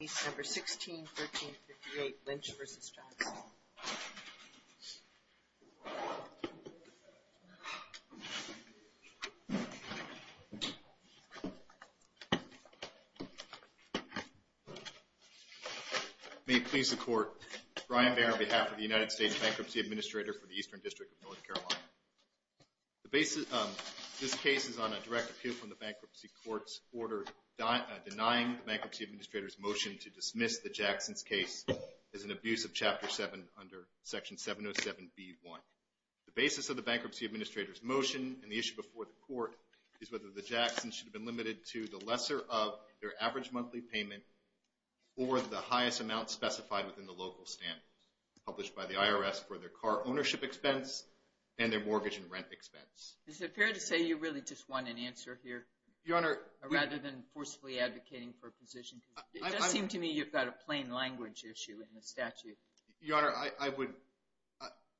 Case No. 161358, Lynch v. Jackson May it please the Court, Brian Baird on behalf of the United States Bankruptcy Administrator for the Eastern District of North Carolina. This case is on a direct appeal from the bankruptcy court's order denying the bankruptcy administrator's motion to dismiss the Jacksons case as an abuse of Chapter 7 under Section 707B1. The basis of the bankruptcy administrator's motion and the issue before the Court is whether the Jacksons should have been limited to the lesser of their average monthly payment or the highest amount specified within the local standards published by the IRS for their car ownership expense and their mortgage and rent expense. Is it fair to say you really just want an answer here? Your Honor, we... Rather than forcibly advocating for a position, because it does seem to me you've got a plain language issue in the statute. Your Honor, I would...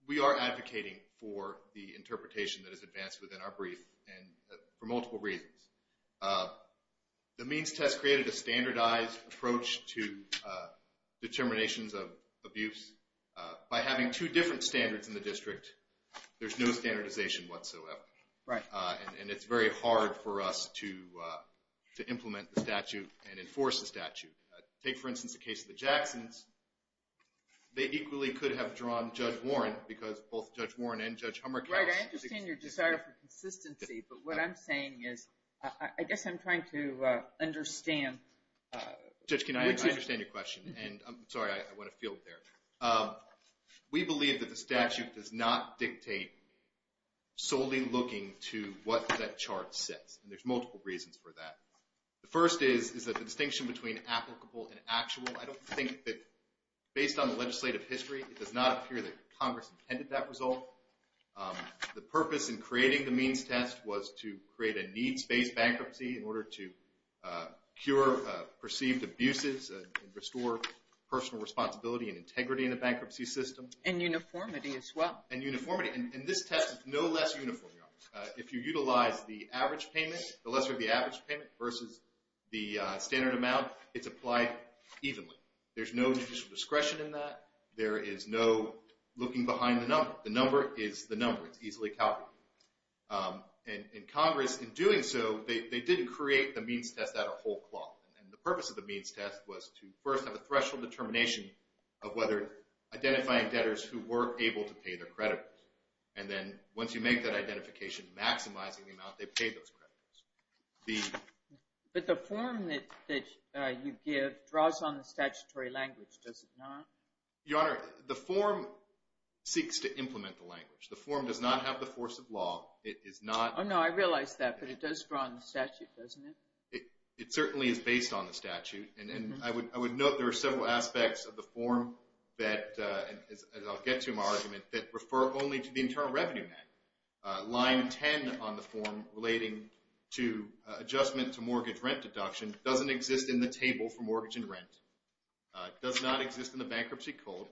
We are advocating for the interpretation that is advanced within our brief and for multiple reasons. The means test created a standardized approach to determinations of abuse. By having two different standards in the district, there's no standardization whatsoever. Right. And it's very hard for us to implement the statute and enforce the statute. Take, for instance, the case of the Jacksons. They equally could have drawn Judge Warren, because both Judge Warren and Judge Hummer cast... Right, I understand your desire for consistency, but what I'm saying is, I guess I'm trying to understand... Judge, can I understand your question? And I'm sorry, I went afield there. We believe that the statute does not dictate solely looking to what that chart says, and there's multiple reasons for that. The first is, is that the distinction between applicable and actual. I don't think that, based on the legislative history, it does not appear that Congress intended that result. The purpose in creating the means test was to create a needs-based bankruptcy in order to cure perceived abuses and restore personal responsibility and integrity in a bankruptcy system. And uniformity as well. And uniformity. And this test is no less uniform, Your Honor. If you utilize the average payment, the lesser of the average payment versus the standard amount, it's applied evenly. There's no judicial discretion in that. There is no looking behind the number. The number is the number. It's easily calculated. And Congress, in doing so, they didn't create the means test out of whole cloth. And the purpose of the means test was to first have a threshold determination of whether identifying debtors who were able to pay their creditors. And then, once you make that identification, maximizing the amount they pay those creditors. The... But the form that you give draws on the statutory language, does it not? Your Honor, the form seeks to implement the language. The form does not have the force of law. It is not... Oh, no, I realize that. But it does draw on the statute, doesn't it? It certainly is based on the statute. And I would note there are several aspects of the form that, as I'll get to in my argument, that refer only to the Internal Revenue Manual. Line 10 on the form relating to adjustment to mortgage rent deduction doesn't exist in the table for mortgage and rent. It does not exist in the Bankruptcy Code.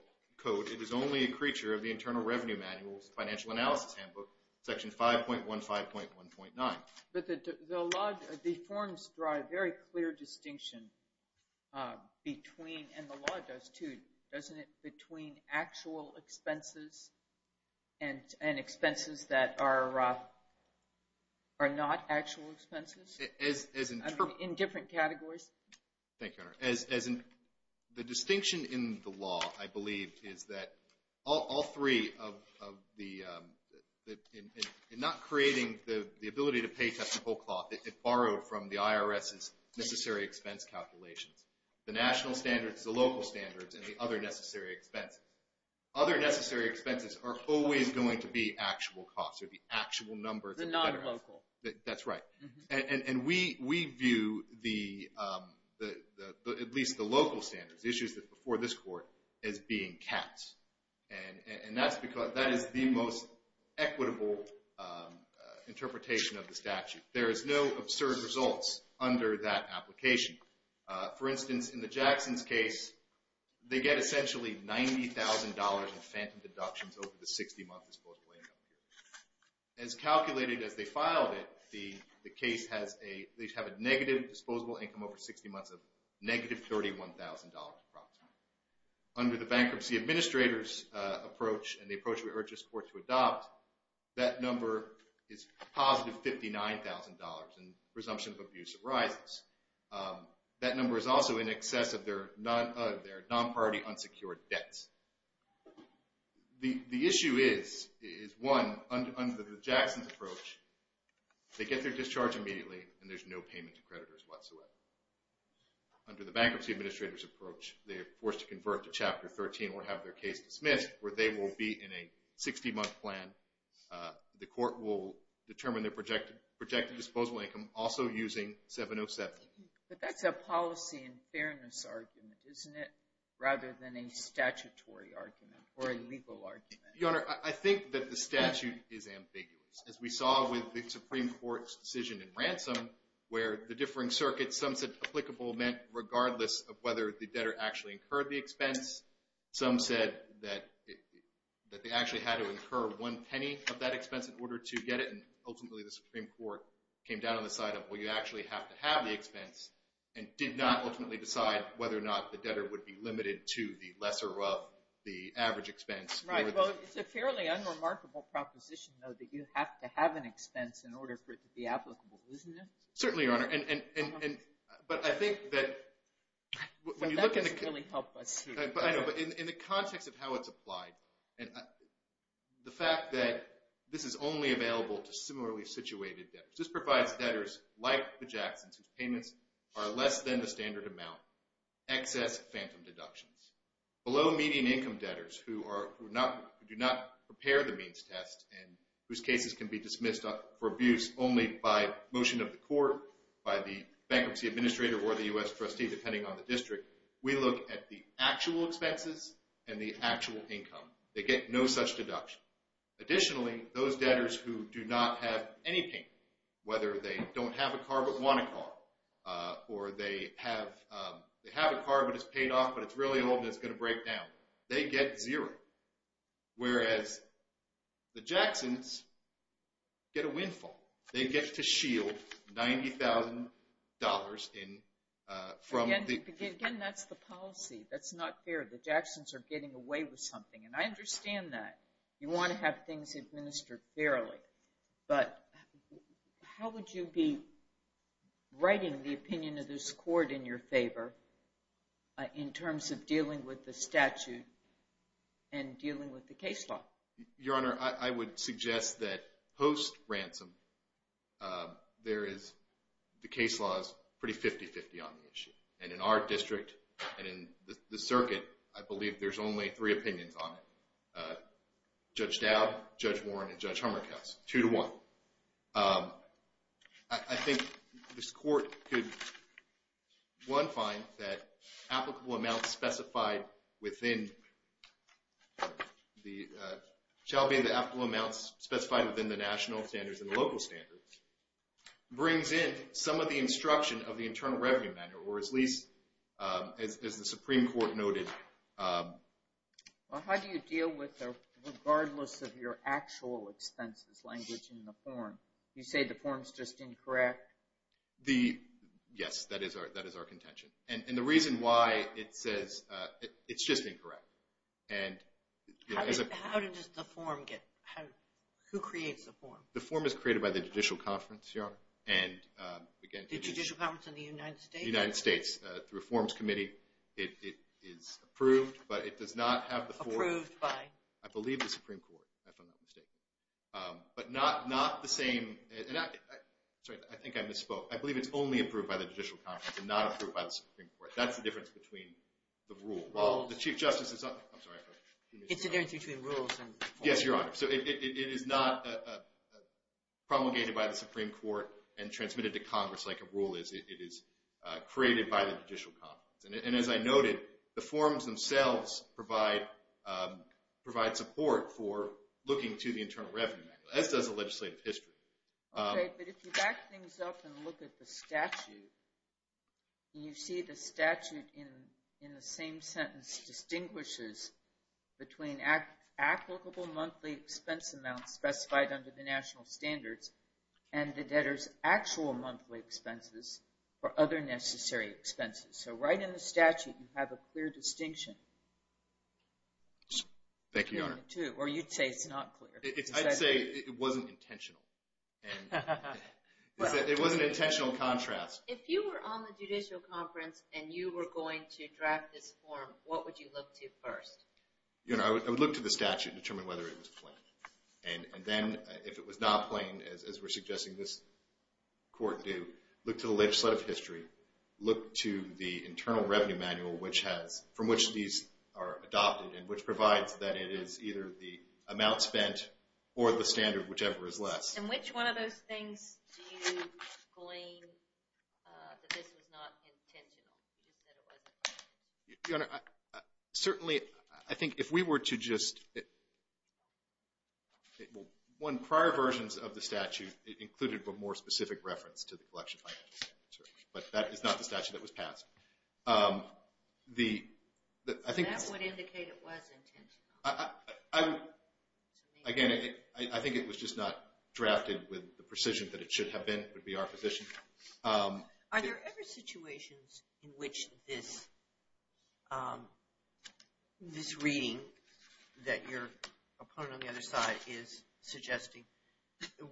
It is only a creature of the Internal Revenue Manual's Financial Analysis Handbook, Section 5.15.1.9. But the law, the forms draw a very clear distinction between, and the law does too, doesn't it, between actual expenses and expenses that are not actual expenses? As in... In different categories. Thank you, Your Honor. The distinction in the law, I believe, is that all three of the... In not creating the ability to pay technical cost, it borrowed from the IRS's necessary expense calculations. The national standards, the local standards, and the other necessary expenses. Other necessary expenses are always going to be actual costs, or the actual numbers of... The non-local. That's right. And we view the, at least the local standards, the issues before this Court, as being caps. And that is the most equitable interpretation of the statute. There is no absurd results under that application. For instance, in the Jacksons case, they get essentially $90,000 in phantom deductions over the 60-month disposable income period. As calculated as they filed it, the case has a negative disposable income over 60 months of negative $31,000, approximately. Under the Bankruptcy Administrators' approach, and the approach we urge this Court to adopt, that number is positive $59,000 and presumption of abuse arises. That number is also in excess of their non-party unsecured debts. The issue is, one, under the Jacksons' approach, they get their discharge immediately and there's no payment to creditors whatsoever. Under the Bankruptcy Administrators' approach, they are forced to convert to Chapter 13 or have their case dismissed, where they will be in a 60-month plan. The Court will determine their projected disposable income, also using 707. But that's a policy and fairness argument, isn't it? Rather than a statutory argument or a legal argument. Your Honor, I think that the statute is ambiguous. As we saw with the Supreme Court's decision in Ransom, where the differing circuits, some said applicable meant, regardless of whether the debtor actually incurred the expense, some said that they actually had to incur one penny of that expense in order to get it. And ultimately, the Supreme Court came down on the side of, well, you actually have to have the expense, and did not ultimately decide whether or not the debtor would be limited to the lesser of the average expense. Right, well, it's a fairly unremarkable proposition, though, that you have to have an expense in order for it to be applicable, isn't it? Certainly, Your Honor. But I think that when you look at the... Well, that doesn't really help us. I know, but in the context of how it's applied, the fact that this is only available to similarly situated debtors. This provides debtors like the Jacksons, whose payments are less than the standard amount, excess phantom deductions. Below-median income debtors who do not prepare the means test and whose cases can be dismissed for abuse only by motion of the court, by the bankruptcy administrator or the US trustee, depending on the district, we look at the actual expenses and the actual income. They get no such deduction. Additionally, those debtors who do not have any payment, whether they don't have a car but want a car, or they have a car but it's paid off, but it's really old and it's going to break down, they get zero. Whereas the Jacksons get a windfall. They get to shield $90,000 from the... Again, that's the policy. That's not fair. The Jacksons are getting away with something. And I understand that. You want to have things administered fairly, but how would you be writing the opinion of this court in your favor in terms of dealing with the statute and dealing with the case law? Your Honor, I would suggest that post-ransom, the case law is pretty 50-50 on the issue. And in our district and in the circuit, I believe there's only three opinions on it. Judge Dowd, Judge Warren, and Judge Hummerkus. Two to one. I think this court could, one, find that applicable amounts specified within the national standards and the local standards brings in some of the instruction of the Internal Revenue Manner, or at least as the Supreme Court noted. Well, how do you deal with, regardless of your actual expenses language in the form? You say the form's just incorrect? The, yes, that is our contention. And the reason why it says it's just incorrect. And how does the form get, who creates the form? The form is created by the Judicial Conference, Your Honor. And again, the Judicial Conference in the United States, the Reforms Committee. It is approved, but it does not have the form. Approved by? I believe the Supreme Court, if I'm not mistaken. But not the same, sorry, I think I misspoke. I believe it's only approved by the Judicial Conference and not approved by the Supreme Court. That's the difference between the rule. Well, the Chief Justice is, I'm sorry. It's the difference between rules and forms. Yes, Your Honor. So it is not promulgated by the Supreme Court and transmitted to Congress like a rule is. It is created by the Judicial Conference. And as I noted, the forms themselves provide support for looking to the Internal Revenue Manual, as does the legislative history. Okay, but if you back things up and look at the statute, you see the statute in the same sentence distinguishes between applicable monthly expense amounts specified under the national standards and the debtor's actual monthly expenses for other necessary expenses. Thank you, Your Honor. Or you'd say it's not clear. I'd say it wasn't intentional. And it was an intentional contrast. If you were on the Judicial Conference and you were going to draft this form, what would you look to first? Your Honor, I would look to the statute and determine whether it was plain. And then if it was not plain, as we're suggesting this court do, look to the legislative history. Look to the Internal Revenue Manual from which these are adopted and which provides that it is either the amount spent or the standard, whichever is less. And which one of those things do you glean that this was not intentional? You just said it wasn't. Your Honor, certainly, I think if we were to just... One, prior versions of the statute included a more specific reference to the collection of financial statements. But that is not the statute that was passed. The... That would indicate it was intentional. I would... Again, I think it was just not drafted with the precision that it should have been. It would be our position. Are there ever situations in which this reading that your opponent on the other side is suggesting,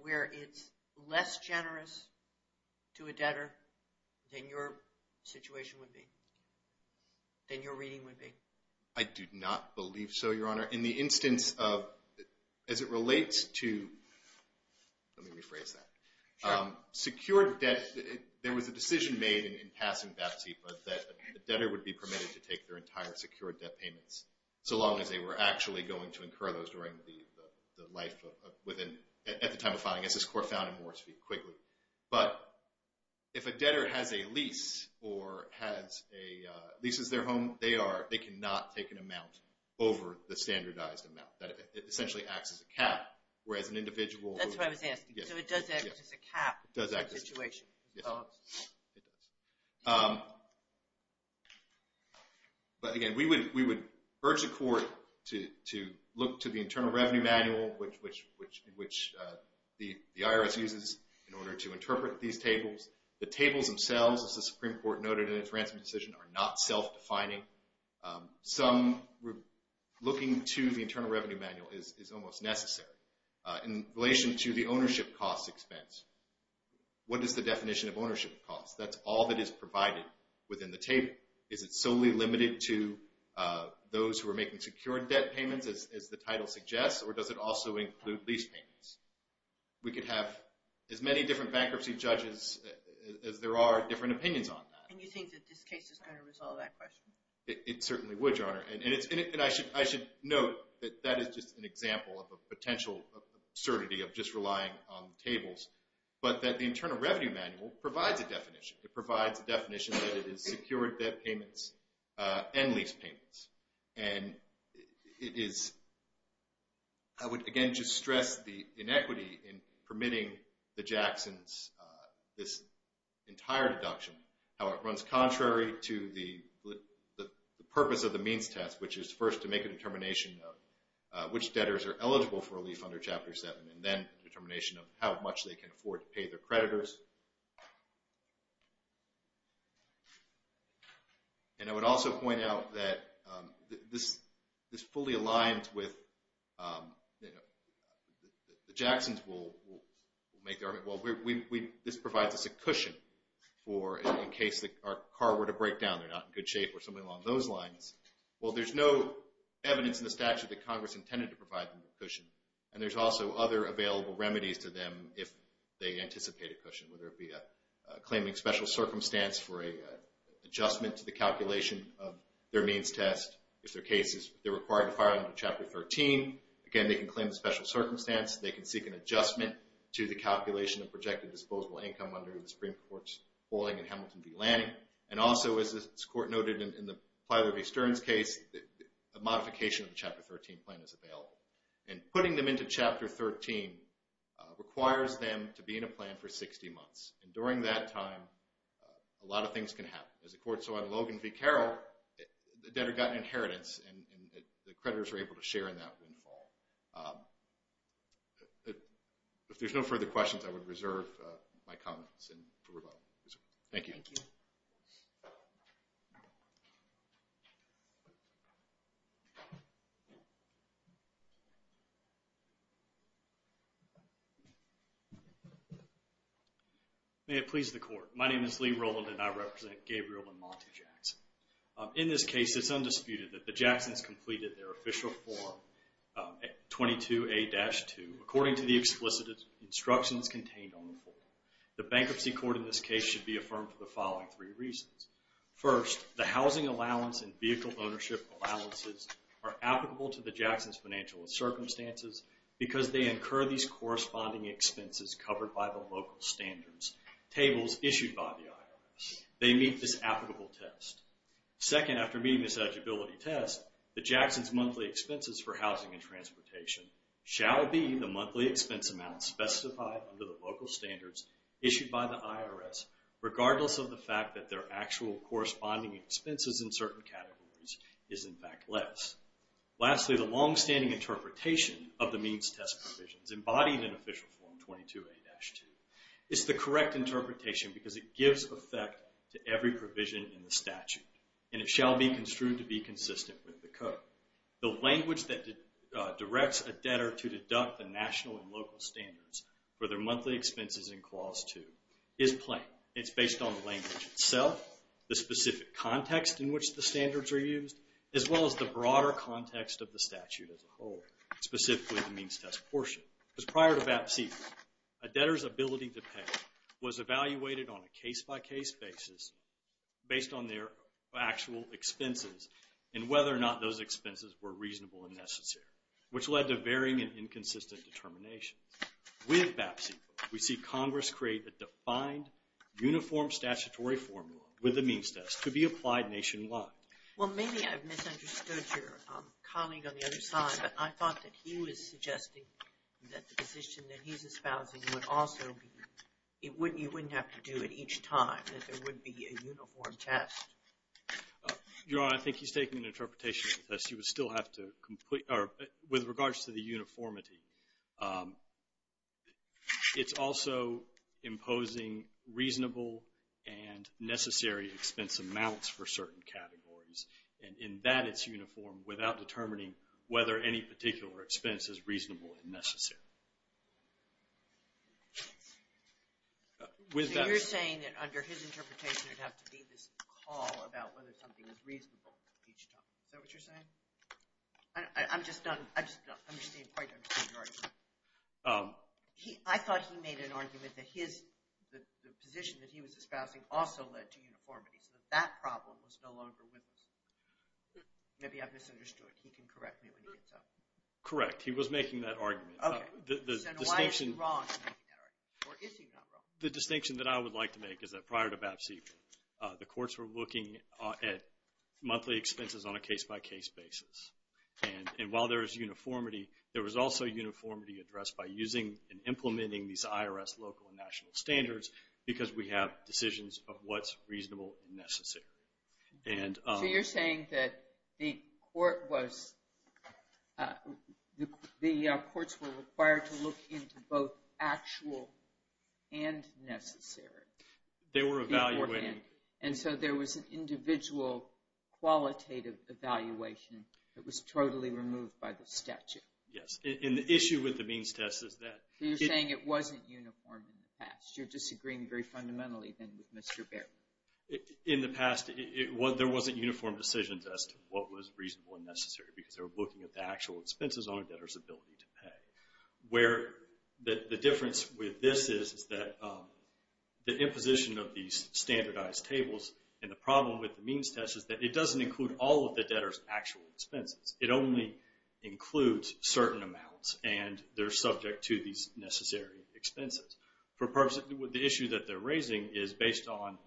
where it's less generous to a debtor than your situation would be, than your reading would be? I do not believe so, Your Honor. In the instance of... As it relates to... Let me rephrase that. Secured debt... There was a decision made in passing BATSEPA that a debtor would be permitted to take their entire secured debt payments, so long as they were actually going to incur those during the life of... Within... At the time of filing. I guess this court found it more quickly. But if a debtor has a lease or has a... Leases their home, they are... They cannot take an amount over the standardized amount. That essentially acts as a cap, whereas an individual... That's what I was asking. So it does act as a cap. It does act as a cap. Yes. It does. But again, we would urge the court to look to the Internal Revenue Manual, which the IRS uses in order to interpret these tables. The tables themselves, as the Supreme Court noted in its ransom decision, are not self-defining. Some... Looking to the Internal Revenue Manual is almost necessary. In relation to the ownership cost expense, what is the definition of ownership cost? That's all that is provided within the table. Is it solely limited to those who are making secured debt payments, as the title suggests? Or does it also include lease payments? We could have as many different bankruptcy judges as there are different opinions on that. And you think that this case is going to resolve that question? It certainly would, Your Honor. And I should note that that is just an example of a potential absurdity of just relying on the tables, but that the Internal Revenue Manual provides a definition. It provides a definition that it is secured debt payments and lease payments. And it is... I would again just stress the inequity in permitting the Jacksons this entire deduction, how it runs contrary to the purpose of the means test, which is first to make a determination of which debtors are eligible for relief under Chapter 7, and then determination of how much they can afford to pay their creditors. And I would also point out that this fully aligns with the Jacksons will make their... Well, this provides us a cushion for in case our car were to break down, they're not in good shape or something along those lines. Well, there's no evidence in the statute that Congress intended to provide them a cushion. And there's also other available remedies to them if they anticipate a cushion, whether it be a claiming special circumstance for a adjustment to the calculation of their means test, if their case is... They're required to file under Chapter 13. Again, they can claim a special circumstance. They can seek an adjustment to the calculation of projected disposable income under the Supreme Court's ruling in Hamilton v. Lanning. And also as this court noted in the Plyler v. Stearns case, a modification of the Chapter 13 plan is available. And putting them into Chapter 13 requires them to be in a plan for 60 months. And during that time, a lot of things can happen. As the court saw in Logan v. Carroll, the debtor got inheritance and the creditors were able to share in that windfall. If there's no further questions, I would reserve my comments and move on. Thank you. May it please the court. My name is Lee Rowland and I represent Gabriel and Monte Jackson. In this case, it's undisputed that the Jacksons completed their official form 22A-2 according to the explicit instructions contained on the form. The bankruptcy court in this case should be affirmed for the following three reasons. First, the housing allowance and vehicle ownership allowances are applicable to the Jacksons financial circumstances because they incur these corresponding expenses covered by the local standards. Tables issued by the IRS. They meet this applicable test. Second, after meeting this eligibility test, the Jacksons monthly expenses for housing and transportation shall be the monthly expense amount specified under the local standards issued by the IRS regardless of the fact that their actual corresponding expenses in certain categories is in fact less. Lastly, the longstanding interpretation of the means test provisions embodied in official form 22A-2 is the correct interpretation because it gives effect to every provision in the statute and it shall be construed to be consistent with the code. The language that directs a debtor to deduct the national and local standards for their monthly expenses in clause two is plain. It's based on the language itself, the specific context in which the standards are used, as well as the broader context of the statute as a whole, specifically the means test portion. Because prior to that season, a debtor's ability to pay was evaluated on a case-by-case basis based on their actual expenses and whether or not those expenses were reasonable and necessary, which led to varying and inconsistent determinations. With BAPC, we see Congress create a defined, uniform statutory formula with the means test to be applied nationwide. Well, maybe I've misunderstood your colleague on the other side, but I thought that he was suggesting that the position that he's espousing would also be, you wouldn't have to do it each time, that there would be a uniform test. Your Honor, I think he's taking an interpretation of the test. You would still have to complete, or with regards to the uniformity, it's also imposing reasonable and necessary expense amounts for certain categories. And in that, it's uniform without determining whether any particular expense is reasonable and necessary. With BAPC. So you're saying that under his interpretation, it'd have to be this call about whether something is reasonable each time. Is that what you're saying? I'm just not, I'm just not, I'm just not quite understanding your argument. I thought he made an argument that his, the position that he was espousing also led to uniformity, so that that problem was no longer with us. Maybe I've misunderstood. He can correct me when he gets up. Correct, he was making that argument. Okay, so why is he wrong in making that argument? Or is he wrong? The distinction that I would like to make is that prior to BAPC, the courts were looking at monthly expenses on a case-by-case basis. And while there is uniformity, there was also uniformity addressed by using and implementing these IRS local and national standards because we have decisions of what's reasonable and necessary. And... So you're saying that the court was, the courts were required to look into both actual and necessary beforehand. They were evaluating. And so there was an individual qualitative evaluation that was totally removed by the statute. Yes, and the issue with the means test is that... So you're saying it wasn't uniform in the past. You're disagreeing very fundamentally then with Mr. Baird. In the past, there wasn't uniform decisions as to what was reasonable and necessary because they were looking at the actual expenses on a debtor's ability to pay. Where the difference with this is, is that the imposition of these standardized tables and the problem with the means test is that it doesn't include all of the debtor's actual expenses. It only includes certain amounts and they're subject to these necessary expenses. For purposes, the issue that they're raising is based on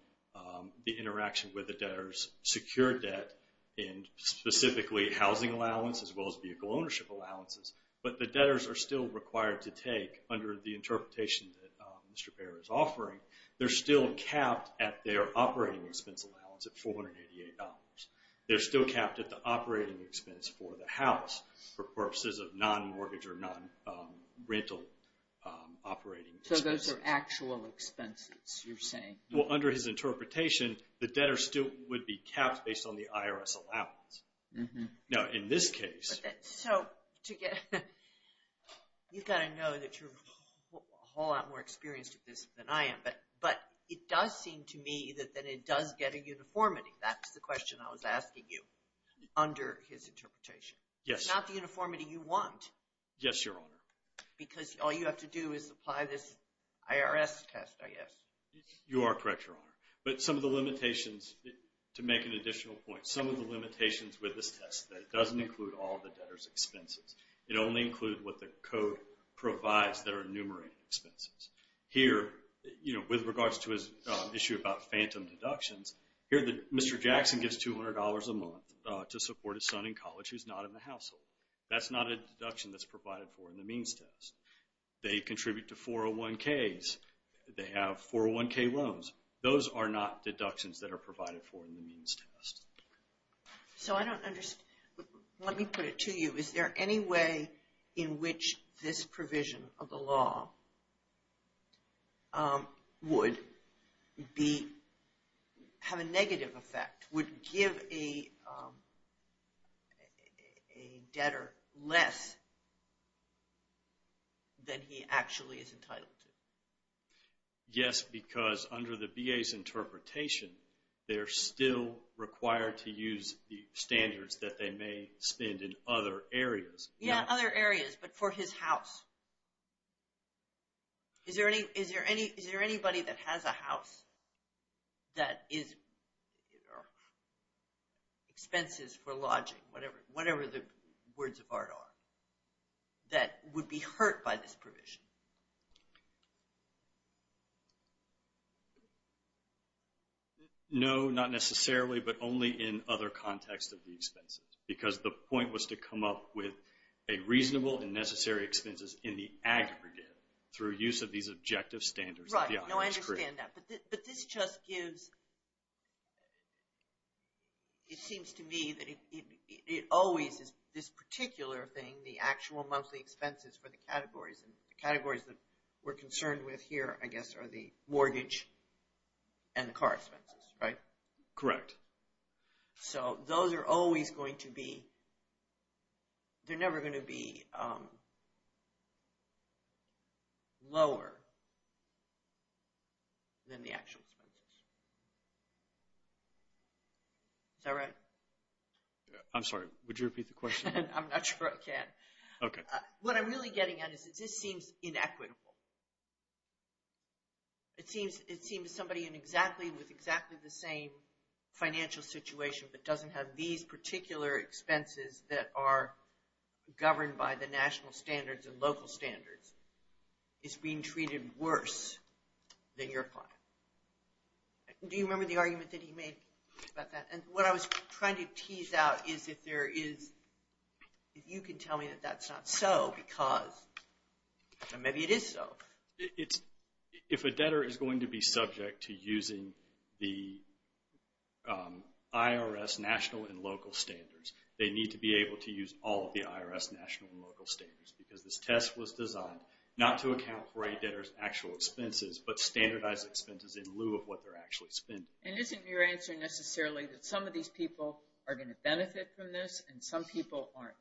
the interaction with the debtors, secure debt, and specifically housing allowance as well as vehicle ownership allowances. But the debtors are still required to take under the interpretation that Mr. Baird is offering. They're still capped at their operating expense allowance at $488. They're still capped at the operating expense for the house for purposes of non-mortgage or non-rental operating. So those are actual expenses. Well, under his interpretation, the debtors still would be capped based on the IRS allowance. Now, in this case. So, to get, you've got to know that you're a whole lot more experienced at this than I am, but it does seem to me that it does get a uniformity. That's the question I was asking you under his interpretation. Yes. It's not the uniformity you want. Yes, Your Honor. Because all you have to do is apply this IRS test, You are correct, Your Honor. But some of the limitations, to make an additional point, some of the limitations with this test that it doesn't include all the debtors' expenses. It only includes what the code provides that are enumerated expenses. Here, with regards to his issue about phantom deductions, here, Mr. Jackson gives $200 a month to support his son in college who's not in the household. That's not a deduction that's provided for in the means test. They contribute to 401ks. They have 401k loans. Those are not deductions that are provided for in the means test. So I don't understand. Let me put it to you. Is there any way in which this provision of the law would have a negative effect, would give a debtor less than he actually is entitled to? Yes, because under the VA's interpretation, they're still required to use the standards that they may spend in other areas. Yeah, other areas, but for his house. Is there anybody that has a house that is expenses for lodging, whatever the words of art are, that would be hurt by this provision? No, not necessarily, but only in other contexts of the expenses. Because the point was to come up with a reasonable and necessary expenses in the aggregate through use of these objective standards. Right, no, I understand that. But this just gives, it seems to me that it always is this particular thing, the actual monthly expenses for the categories, and the categories that we're concerned with here, I guess, are the mortgage and the car expenses, right? Correct. So those are always going to be, they're never going to be lower than the actual expenses. Is that right? I'm sorry, would you repeat the question? I'm not sure I can. Okay. What I'm really getting at is that this seems inequitable. It seems somebody in exactly, with exactly the same financial situation, but doesn't have these particular expenses that are governed by the national standards and local standards is being treated worse than your client. Do you remember the argument that he made about that? And what I was trying to tease out is if there is, if you can tell me that that's not so, because, and maybe it is so. If a debtor is going to be subject to using the IRS national and local standards, they need to be able to use all of the IRS national and local standards, because this test was designed not to account for a debtor's actual expenses, but standardized expenses in lieu of what they're actually spending. And isn't your answer necessarily that some of these people are going to benefit from this, and some people aren't?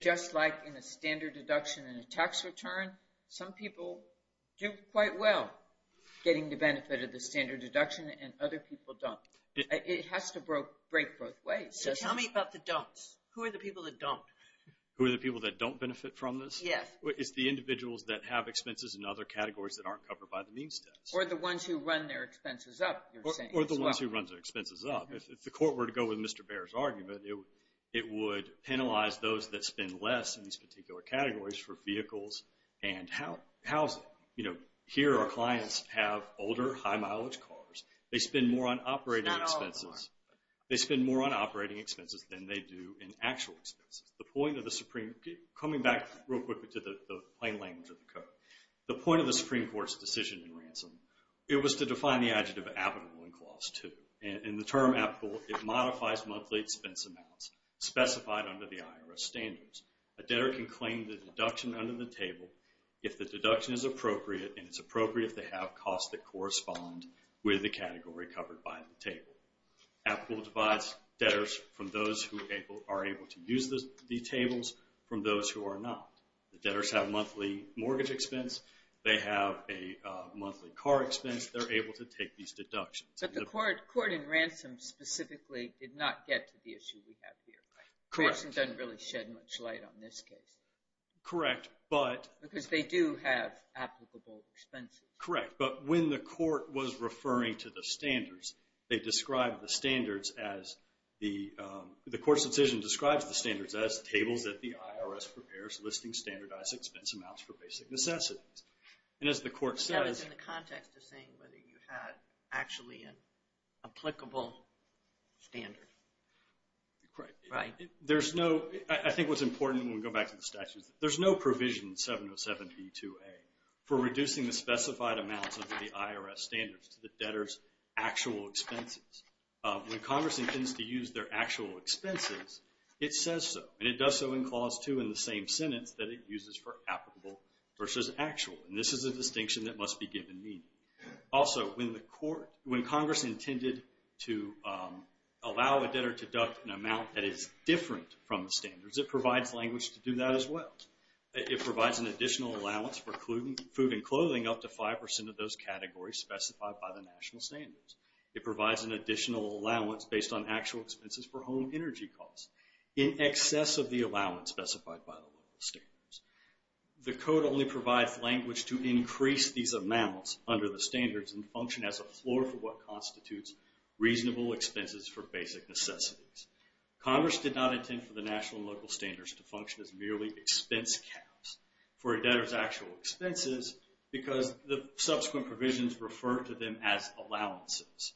Just like in a standard deduction in a tax return, some people do quite well getting the benefit of the standard deduction, and other people don't. It has to break both ways. So tell me about the don'ts. Who are the people that don't? Who are the people that don't benefit from this? Yes. It's the individuals that have expenses in other categories that aren't covered by the means test. Or the ones who run their expenses up, you're saying as well. Or the ones who run their expenses up. If the court were to go with Mr. Bair's argument, it would penalize those that spend less in these particular categories for vehicles and housing. Here our clients have older, high mileage cars. They spend more on operating expenses. They spend more on operating expenses than they do in actual expenses. The point of the Supreme, coming back real quickly to the plain language of the code. The point of the Supreme Court's decision in Ransom, it was to define the adjective applicable in clause two. In the term applicable, it modifies monthly expense amounts specified under the IRS standards. A debtor can claim the deduction under the table if the deduction is appropriate and it's appropriate if they have costs that correspond with the category covered by the table. Applicable divides debtors from those who are able to use the tables from those who are not. The debtors have monthly mortgage expense. They have a monthly car expense. They're able to take these deductions. But the court in Ransom specifically did not get to the issue we have here. Correct. Ransom doesn't really shed much light on this case. Correct, but. Because they do have applicable expenses. Correct, but when the court was referring to the standards, they described the standards as the, the court's decision describes the standards as tables that the IRS prepares listing standardized expense amounts for basic necessities. And as the court says. That is in the context of saying whether you had actually an applicable standard. Correct. There's no, I think what's important when we go back to the statutes, there's no provision in 707b2a for reducing the specified amounts of the IRS standards to the debtor's actual expenses. When Congress intends to use their actual expenses, it says so. And it does so in clause two in the same sentence that it uses for applicable versus actual. And this is a distinction that must be given meaning. Also, when the court, when Congress intended to allow a debtor to deduct an amount that is different from the standards, it provides language to do that as well. It provides an additional allowance for food and clothing, up to 5% of those categories specified by the national standards. It provides an additional allowance based on actual expenses for home energy costs. In excess of the allowance specified by the local standards. The code only provides language to increase these amounts under the standards and function as a floor for what constitutes reasonable expenses for basic necessities. Congress did not intend for the national and local standards to function as merely expense caps for a debtor's actual expenses because the subsequent provisions refer to them as allowances.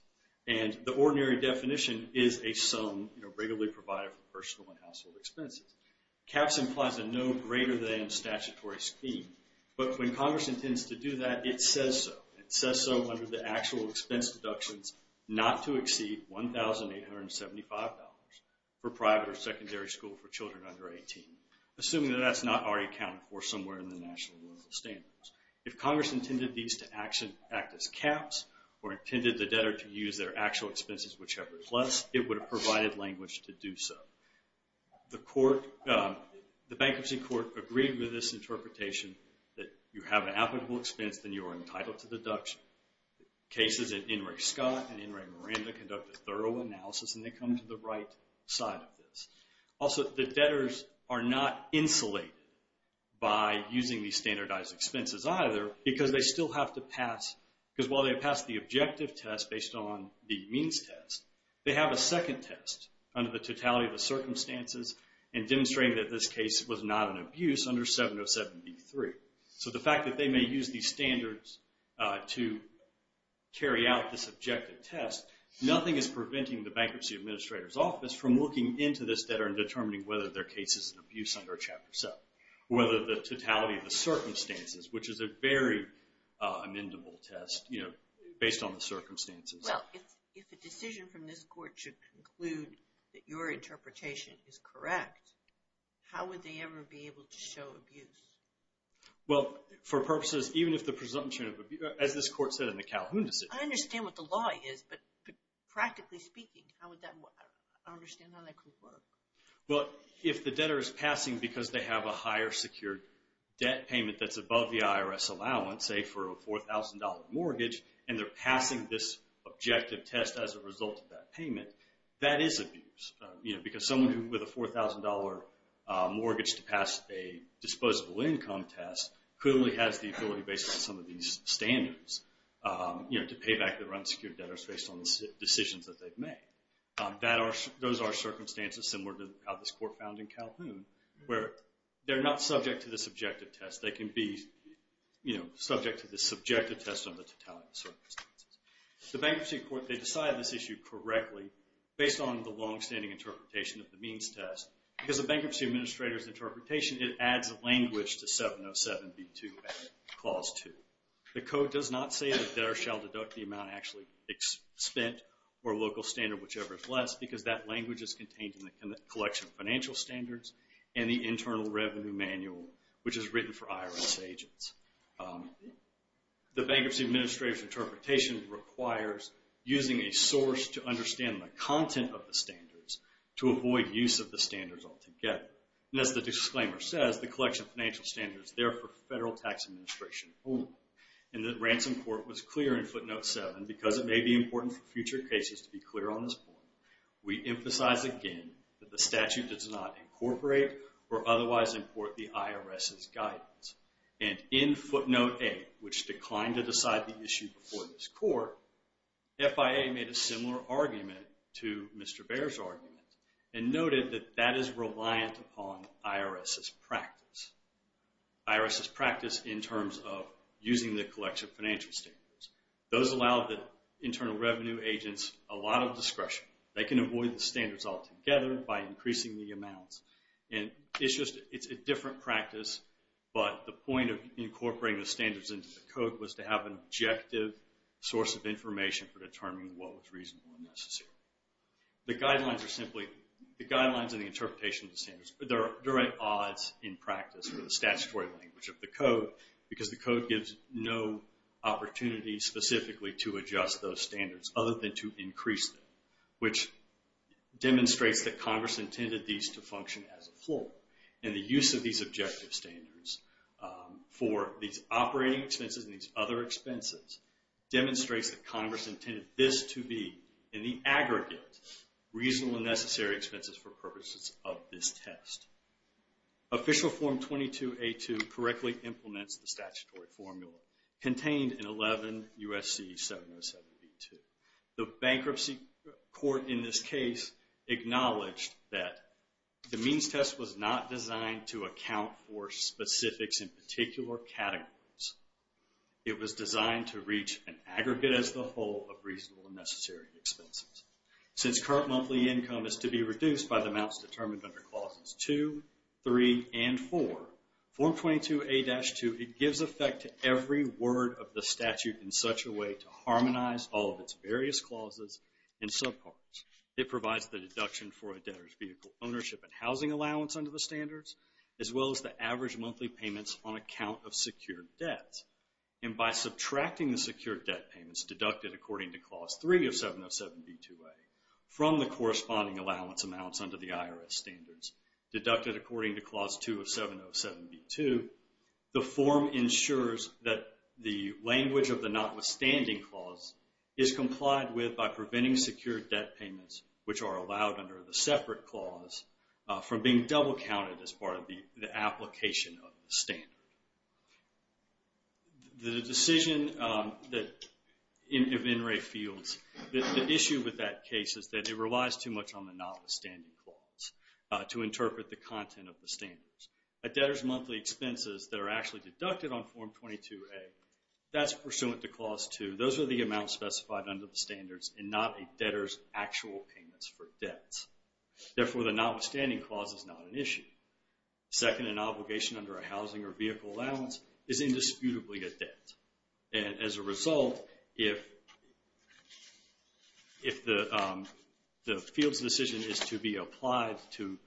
And the ordinary definition is a sum regularly provided for personal and household expenses. Caps implies a no greater than statutory scheme. But when Congress intends to do that, it says so. It says so under the actual expense deductions not to exceed $1,875 for private or secondary school for children under 18. Assuming that that's not already accounted for somewhere in the national and local standards. If Congress intended these to act as caps or intended the debtor to use their actual expenses whichever plus, it would have provided language to do so. The court, the Bankruptcy Court agreed with this interpretation that you have an applicable expense then you are entitled to deduction. Cases in In re Scott and in re Miranda conduct a thorough analysis and they come to the right side of this. Also the debtors are not insulated by using these standardized expenses either because they still have to pass, because while they pass the objective test based on the means test, they have a second test under the totality of the circumstances and demonstrating that this case was not an abuse under 7073. So the fact that they may use these standards to carry out this objective test, nothing is preventing the Bankruptcy Administrator's Office from looking into this debtor and determining whether their case is an abuse under Chapter 7. Whether the totality of the circumstances which is a very amendable test based on the circumstances. Well, if the decision from this court should conclude that your interpretation is correct, how would they ever be able to show abuse? Well, for purposes, even if the presumption of abuse, as this court said in the Calhoun decision. I understand what the law is, but practically speaking, how would that work? I don't understand how that could work. Well, if the debtor is passing because they have a higher secured debt payment that's above the IRS allowance, say for a $4,000 mortgage and they're passing this objective test as a result of that payment, that is abuse. Because someone with a $4,000 mortgage to pass a disposable income test clearly has the ability based on some of these standards to pay back their unsecured debtors based on the decisions that they've made. Those are circumstances similar to how this court found in Calhoun where they're not subject to this objective test. They can be subject to this subjective test based on the totality of the circumstances. The bankruptcy court, they decided this issue correctly based on the longstanding interpretation of the means test. Because the bankruptcy administrator's interpretation, it adds language to 707b2 clause two. The code does not say that debtor shall deduct the amount actually spent or local standard, whichever is less, because that language is contained in the collection of financial standards and the internal revenue manual, which is written for IRS agents. The bankruptcy administrator's interpretation requires using a source to understand the content of the standards to avoid use of the standards altogether. And as the disclaimer says, the collection of financial standards is there for federal tax administration only. And the ransom court was clear in footnote seven because it may be important for future cases to be clear on this point. We emphasize again that the statute does not incorporate or otherwise import the IRS's guidance. And in footnote eight, which declined to decide the issue before this court, FIA made a similar argument to Mr. Bair's argument and noted that that is reliant upon IRS's practice. IRS's practice in terms of using the collection of financial standards. Those allow the internal revenue agents a lot of discretion. They can avoid the standards altogether by increasing the amounts. And it's just, it's a different practice, but the point of incorporating the standards into the code was to have an objective source of information for determining what was reasonable and necessary. The guidelines are simply, the guidelines and the interpretation of the standards, there are direct odds in practice for the statutory language of the code because the code gives no opportunity specifically to adjust those standards other than to increase them, which demonstrates that Congress intended these to function as a whole. And the use of these objective standards for these operating expenses and these other expenses demonstrates that Congress intended this to be, in the aggregate, reasonable and necessary expenses for purposes of this test. Official Form 22A2 correctly implements the statutory formula contained in 11 U.S.C. 707b2. The bankruptcy court in this case acknowledged that the means test was not designed to account for specifics in particular categories. It was designed to reach an aggregate as the whole of reasonable and necessary expenses. Since current monthly income is to be reduced by the amounts determined under clauses two, three, and four, Form 22A-2, it gives effect to every word of the statute in such a way to harmonize all of its various clauses and subparts. It provides the deduction for a debtor's vehicle ownership and housing allowance under the standards, as well as the average monthly payments on account of secured debts. And by subtracting the secured debt payments deducted according to clause three of 707b2a from the corresponding allowance amounts under the IRS standards, deducted according to clause two of 707b2, the form ensures that the language of the notwithstanding clause is complied with by preventing secured debt payments, which are allowed under the separate clause, from being double-counted as part of the application of the standard. The decision that, if NREA fields, the issue with that case is that it relies too much on the notwithstanding clause to interpret the content of the standards. A debtor's monthly expenses that are actually deducted on Form 22A, that's pursuant to clause two. Those are the amounts specified under the standards and not a debtor's actual payments for debts. Therefore, the notwithstanding clause is not an issue. Second, an obligation under a housing or vehicle allowance is indisputably a debt. And as a result, if the field's decision is to be applied to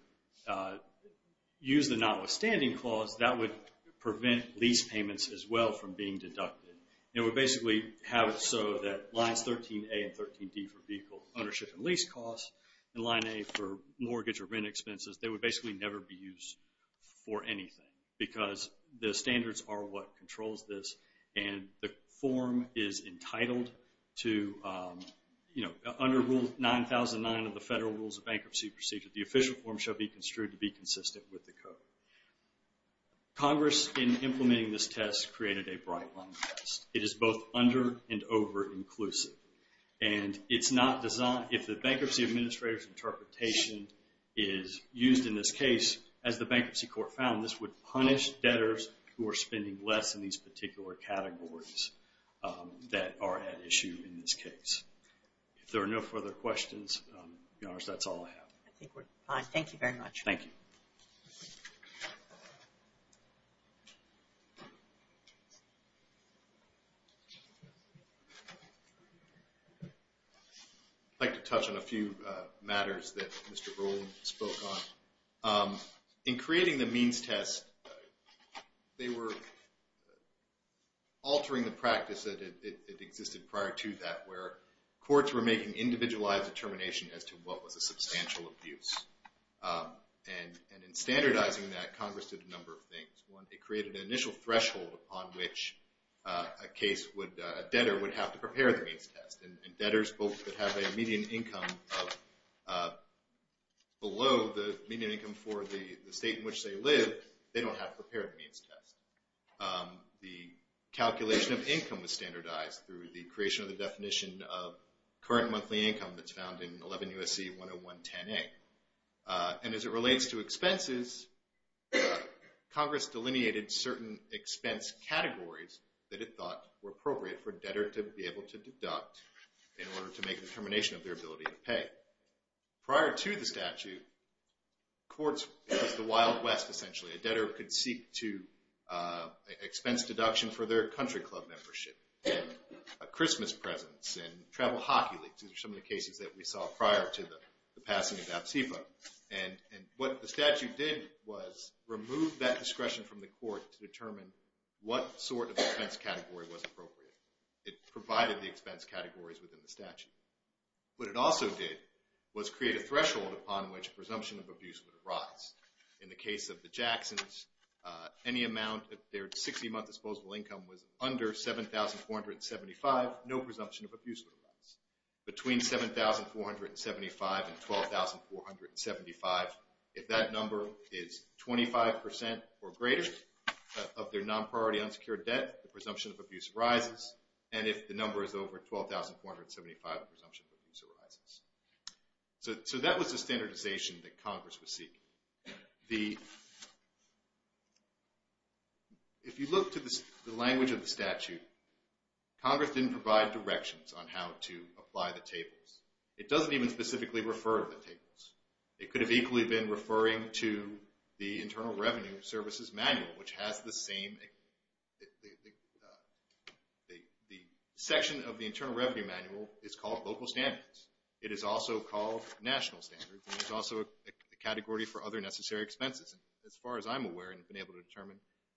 use the notwithstanding clause, that would prevent lease payments as well from being deducted. It would basically have it so that lines 13A and 13D for vehicle ownership and lease costs and line A for mortgage or rent expenses, they would basically never be used for anything because the standards are what controls this and the form is entitled to, under Rule 9009 of the Federal Rules of Bankruptcy Procedure, the official form shall be construed to be consistent with the code. Congress, in implementing this test, has created a bright line test. It is both under and over-inclusive. And it's not designed, if the bankruptcy administrator's interpretation is used in this case, as the Bankruptcy Court found, this would punish debtors who are spending less in these particular categories that are at issue in this case. If there are no further questions, yours, that's all I have. I think we're fine. Thank you very much. Thank you. Thank you. I'd like to touch on a few matters that Mr. Brolin spoke on. In creating the means test, they were altering the practice that existed prior to that where courts were making individualized determination as to what was a substantial abuse. And in standardizing that, Congress did a number of things. It created an initial threshold upon which a case would, a debtor would have to prepare the means test. And debtors both would have a median income of below the median income for the state in which they live. They don't have to prepare the means test. The calculation of income was standardized through the creation of the definition of current monthly income And as it relates to expenses, Congress delineated certain expense categories that it thought were appropriate for a debtor to be able to deduct in order to make a determination of their ability to pay. Prior to the statute, courts was the Wild West essentially. A debtor could seek to expense deduction for their country club membership, a Christmas presents, and travel hockey leagues. These are some of the cases that we saw prior to the passing of APSIFA. And what the statute did was remove that discretion from the court to determine what sort of expense category was appropriate. It provided the expense categories within the statute. What it also did was create a threshold upon which presumption of abuse would arise. In the case of the Jacksons, any amount of their 60 month disposable income was under 7,475, no presumption of abuse would arise. Between 7,475 and 12,475, if that number is 25% or greater of their non-priority unsecured debt, the presumption of abuse arises. And if the number is over 12,475, the presumption of abuse arises. So that was the standardization that Congress was seeking. If you look to the language of the statute, Congress didn't provide directions on how to apply the tables. It doesn't even specifically refer to the tables. It could have equally been referring to the Internal Revenue Services Manual, which has the same, the section of the Internal Revenue Manual is called Local Standards. It is also called National Standards, and it's also a category for other necessary expenses. As far as I'm aware and have been able to determine,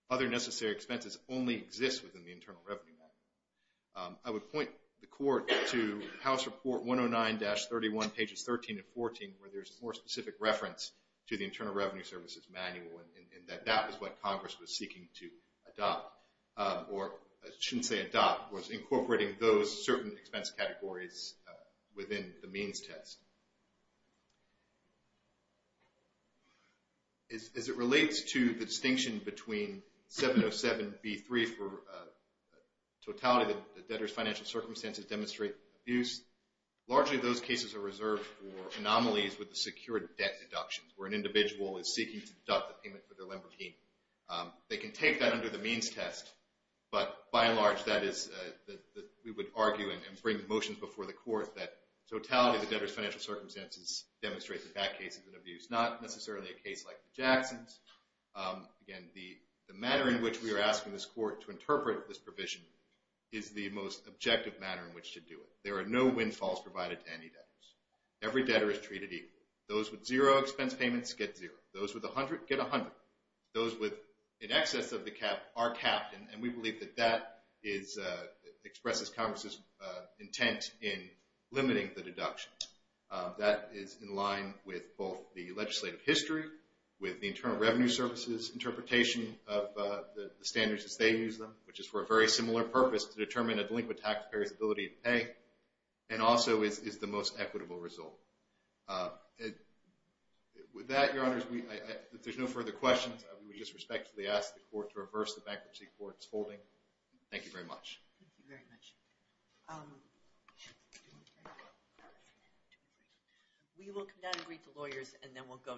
other necessary expenses only exist within the Internal Revenue Manual. I would point the court to House Report 109-31, pages 13 and 14, where there's more specific reference to the Internal Revenue Services Manual, and that that was what Congress was seeking to adopt, or I shouldn't say adopt, was incorporating those certain expense categories within the means test. As it relates to the distinction between 707B3 for totality that the debtor's financial circumstances demonstrate abuse, largely those cases are reserved for anomalies with the secured debt deductions, where an individual is seeking to deduct the payment for their Lembergine. They can take that under the means test, but by and large, that is, we would argue and bring motions before the court that totality of the debtor's financial circumstances demonstrate the bad cases and abuse, not necessarily a case like the Jacksons. Again, the manner in which we are asking this court to interpret this provision is the most objective manner in which to do it. There are no windfalls provided to any debtors. Every debtor is treated equally. Those with zero expense payments get zero. Those with 100 get 100. Those with in excess of the cap are capped, and we believe that that expresses Congress's intent in limiting the deduction. That is in line with both the legislative history, with the Internal Revenue Service's interpretation of the standards as they use them, which is for a very similar purpose to determine a delinquent taxpayer's ability to pay, and also is the most equitable result. With that, Your Honors, if there's no further questions, I would just respectfully ask the court to reverse the bankruptcy court's holding. Thank you very much. Thank you very much. We will come down and greet the lawyers, and then we'll go to our last case.